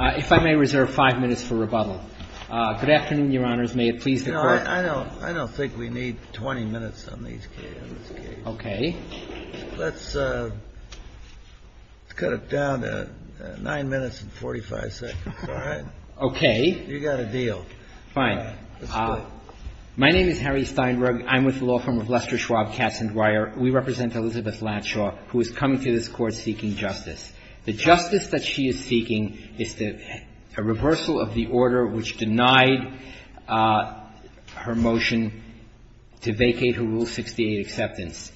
If I may reserve five minutes for rebuttal. Good afternoon, Your Honors. May it please the Court. No, I don't think we need 20 minutes on these cases. Okay. Let's cut it down to nine minutes and 45 seconds, all right? Okay. You got a deal. Fine. Let's do it. My name is Harry Steinberg. I'm with the law firm of Lester Schwab, Katz, & Dwyer. We represent Elizabeth Latshaw, who is coming to this Court seeking justice. The justice that she is seeking is a reversal of the order which denied her motion to vacate her Rule 68 acceptance.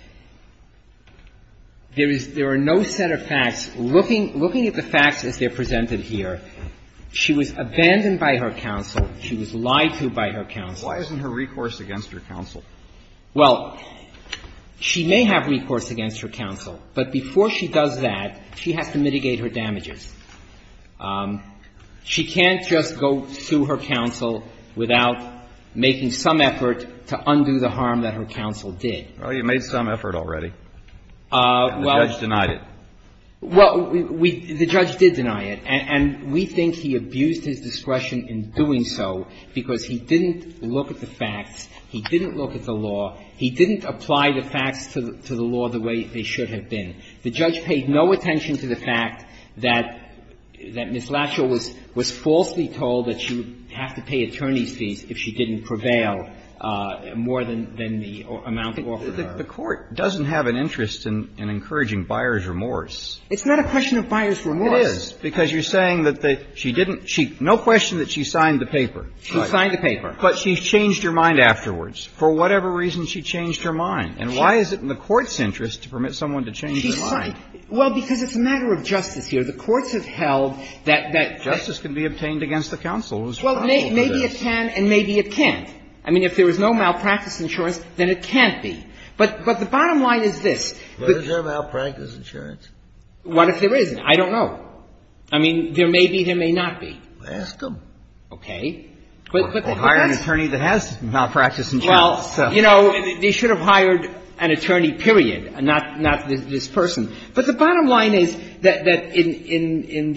There are no set of facts. Looking at the facts as they're presented here, she was abandoned by her counsel. She was lied to by her counsel. Well, she may have recourse against her counsel, but before she does that, she has to mitigate her damages. She can't just go sue her counsel without making some effort to undo the harm that her counsel did. Well, you made some effort already. Well — The judge denied it. Well, we — the judge did deny it. And we think he abused his discretion in doing so because he didn't look at the facts. He didn't look at the law. He didn't apply the facts to the law the way they should have been. The judge paid no attention to the fact that Ms. Latshaw was falsely told that she would have to pay attorney's fees if she didn't prevail more than the amount offered her. The Court doesn't have an interest in encouraging buyer's remorse. It's not a question of buyer's remorse. It is, because you're saying that she didn't — no question that she signed the paper. She signed the paper. But she changed her mind afterwards. For whatever reason, she changed her mind. And why is it in the court's interest to permit someone to change their mind? She signed — well, because it's a matter of justice here. The courts have held that — Justice can be obtained against the counsel who is responsible for this. Well, maybe it can and maybe it can't. I mean, if there was no malpractice insurance, then it can't be. But the bottom line is this. Was there malpractice insurance? What if there isn't? I mean, I don't know. I mean, there may be, there may not be. Ask them. Okay. Or hire an attorney that has malpractice insurance. Well, you know, they should have hired an attorney, period, not this person. But the bottom line is that in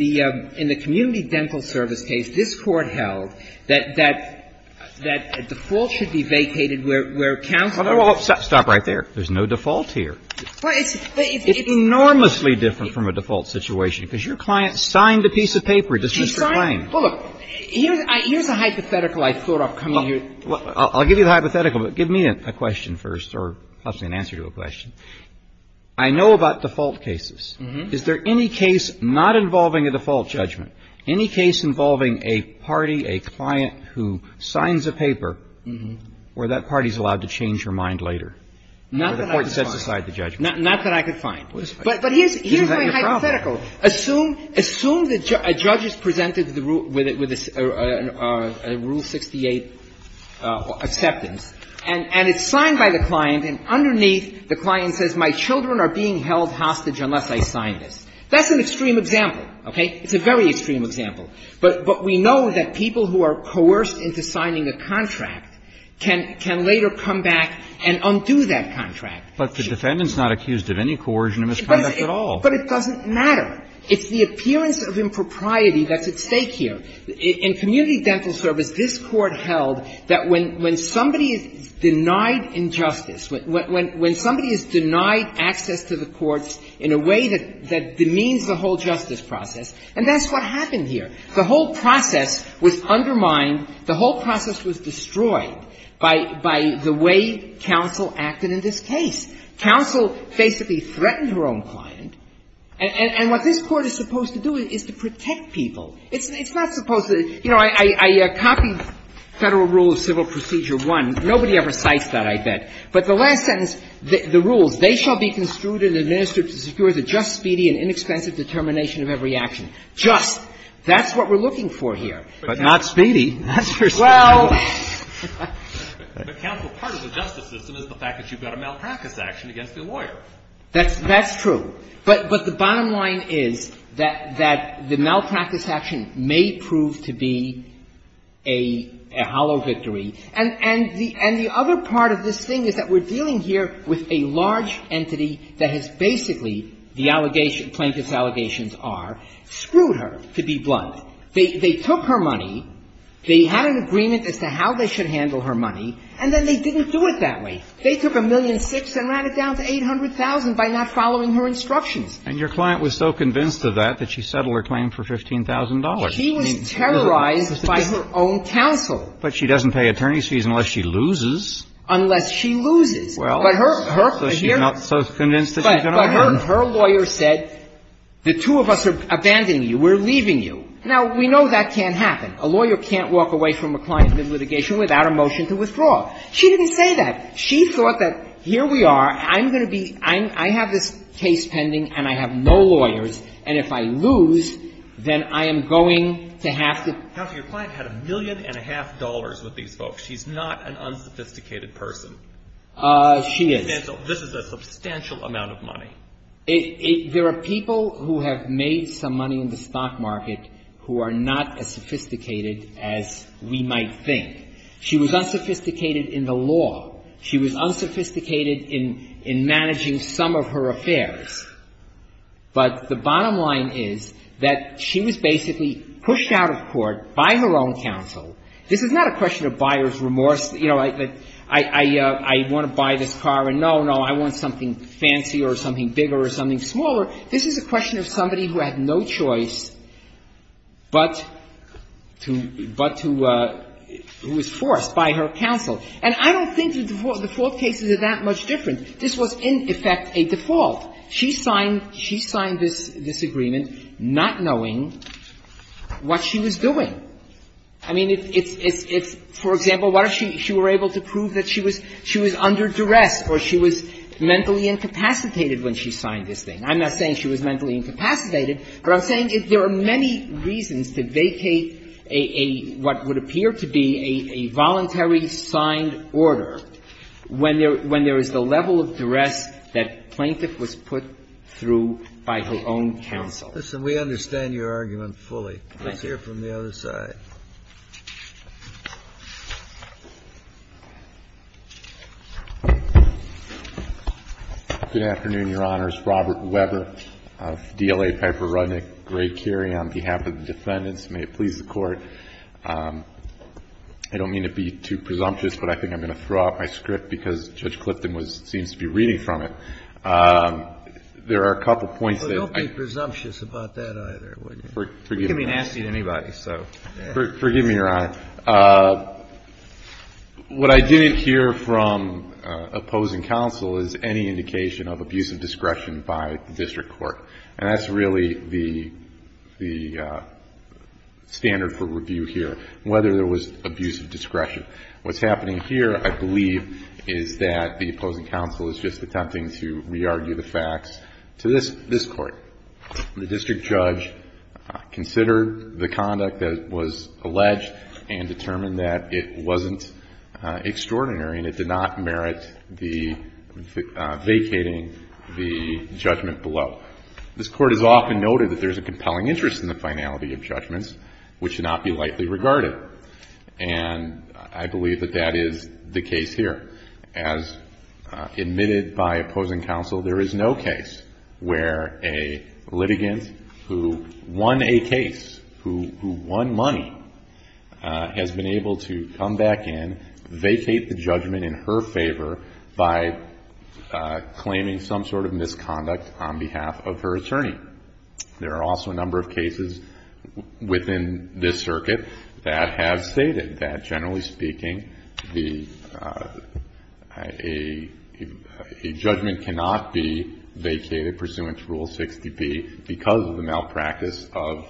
the community dental service case, this Court held that default should be vacated where counsel — Stop right there. There's no default here. Well, it's — It's enormously different from a default situation, because your client signed a piece of paper, dismissed her claim. She signed — well, look, here's a hypothetical I thought up coming here. I'll give you the hypothetical, but give me a question first or possibly an answer to a question. I know about default cases. Is there any case not involving a default judgment, any case involving a party, a client who signs a paper where that party is allowed to change her mind later? Not that I could find. Where the Court sets aside the judgment. Not that I could find. But here's my hypothetical. Isn't that your problem? Assume the judge is presented with a Rule 68 acceptance and it's signed by the client and underneath the client says, my children are being held hostage unless I sign this. That's an extreme example, okay? It's a very extreme example. But we know that people who are coerced into signing a contract can later come back and undo that contract. But the defendant's not accused of any coercion or misconduct at all. But it doesn't matter. It's the appearance of impropriety that's at stake here. In community dental service, this Court held that when somebody is denied injustice, when somebody is denied access to the courts in a way that demeans the whole justice process, and that's what happened here. The whole process was undermined. The whole process was destroyed by the way counsel acted in this case. Counsel basically threatened her own client. And what this Court is supposed to do is to protect people. It's not supposed to – you know, I copied Federal Rule of Civil Procedure 1. Nobody ever cites that, I bet. But the last sentence, the rules, they shall be construed and administered to secure the just, speedy, and inexpensive determination of every action. Just. That's what we're looking for here. But not speedy. That's for speedy. Well. But counsel, part of the justice system is the fact that you've got a malpractice action against the lawyer. That's true. But the bottom line is that the malpractice action may prove to be a hollow victory. And the other part of this thing is that we're dealing here with a large entity that has basically, the plaintiff's allegations are, screwed her, to be blunt. They took her money. They had an agreement as to how they should handle her money, and then they didn't do it that way. They took a million-six and ran it down to 800,000 by not following her instructions. And your client was so convinced of that that she settled her claim for $15,000. She was terrorized by her own counsel. But she doesn't pay attorney's fees unless she loses. Unless she loses. Well, so she's not so convinced that she's going to win. But her lawyer said, the two of us are abandoning you. We're leaving you. Now, we know that can't happen. A lawyer can't walk away from a client's litigation without a motion to withdraw. She didn't say that. She thought that here we are, I'm going to be, I have this case pending and I have no lawyers, and if I lose, then I am going to have to. Counsel, your client had a million and a half dollars with these folks. She's not an unsophisticated person. She is. This is a substantial amount of money. There are people who have made some money in the stock market who are not as sophisticated as we might think. She was unsophisticated in the law. She was unsophisticated in managing some of her affairs. But the bottom line is that she was basically pushed out of court by her own counsel. This is not a question of buyer's remorse. You know, I want to buy this car, and no, no, I want something fancier or something bigger or something smaller. This is a question of somebody who had no choice but to who was forced by her counsel. And I don't think the default cases are that much different. This was, in effect, a default. She signed this agreement not knowing what she was doing. I mean, it's, for example, what if she were able to prove that she was under duress or she was mentally incapacitated when she signed this thing. I'm not saying she was mentally incapacitated, but I'm saying there are many reasons to vacate a, what would appear to be a voluntary signed order when there is the level of duress that plaintiff was put through by her own counsel. We understand your argument fully. Let's hear from the other side. Good afternoon, Your Honors. Robert Weber of DLA, Piper Rudnick, Gray-Curie, on behalf of the defendants. May it please the Court. I don't mean to be too presumptuous, but I think I'm going to throw out my script because Judge Clifton seems to be reading from it. There are a couple points that I think are important. You wouldn't be presumptuous about that either, would you? Forgive me. You can be nasty to anybody, so. Forgive me, Your Honor. What I didn't hear from opposing counsel is any indication of abusive discretion by the district court. And that's really the standard for review here, whether there was abusive discretion. What's happening here, I believe, is that the opposing counsel is just attempting to consider the conduct that was alleged and determined that it wasn't extraordinary and it did not merit the vacating the judgment below. This Court has often noted that there's a compelling interest in the finality of judgments which should not be lightly regarded. And I believe that that is the case here. As admitted by opposing counsel, there is no case where a litigant who won a case, who won money, has been able to come back in, vacate the judgment in her favor by claiming some sort of misconduct on behalf of her attorney. There are also a number of cases within this circuit that have stated that, generally speaking, a judgment cannot be vacated pursuant to Rule 60B because of the malpractice of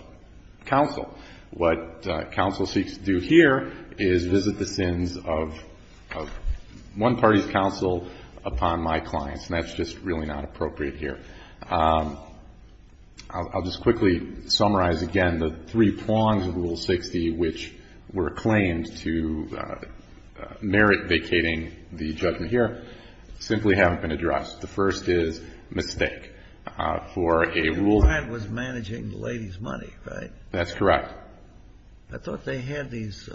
counsel. What counsel seeks to do here is visit the sins of one party's counsel upon my clients, and that's just really not appropriate here. I'll just quickly summarize again. The three prongs of Rule 60 which were claimed to merit vacating the judgment here simply haven't been addressed. The first is mistake. For a rule that was managing the lady's money, right? That's correct. I thought they had these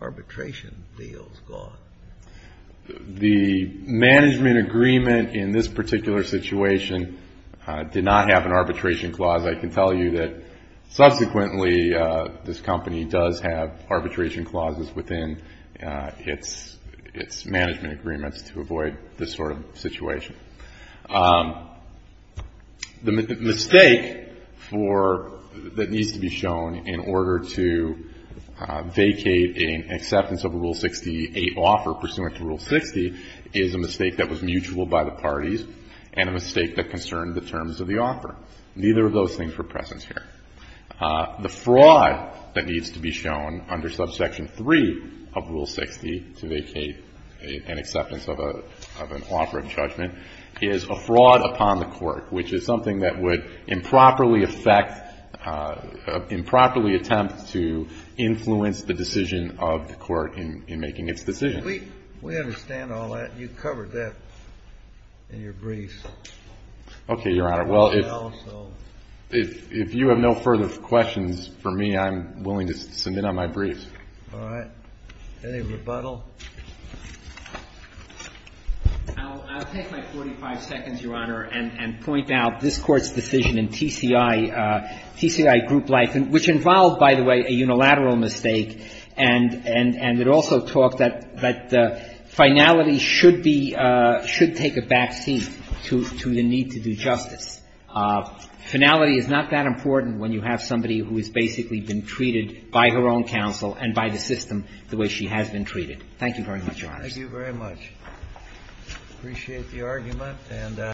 arbitration deals going. The management agreement in this particular situation did not have an arbitration clause. I can tell you that, subsequently, this company does have arbitration clauses within its management agreements to avoid this sort of situation. The mistake that needs to be shown in order to vacate an acceptance of a Rule 68 offer pursuant to Rule 60 is a mistake that was mutual by the parties and a mistake that concerned the terms of the offer. Neither of those things were present here. The fraud that needs to be shown under Subsection 3 of Rule 60 to vacate an acceptance of an offer of judgment is a fraud upon the court, which is something that would improperly affect, improperly attempt to influence the decision of the court in making its decision. We understand all that. You covered that in your brief. Okay, Your Honor. Well, if you have no further questions for me, I'm willing to submit on my brief. All right. Any rebuttal? I'll take my 45 seconds, Your Honor, and point out this Court's decision in TCI Group Life, which involved, by the way, a unilateral mistake, and it also talked that finality should be – should take a back seat to the need to do justice. Finality is not that important when you have somebody who has basically been treated by her own counsel and by the system the way she has been treated. Thank you very much, Your Honor. Thank you very much. I appreciate the argument.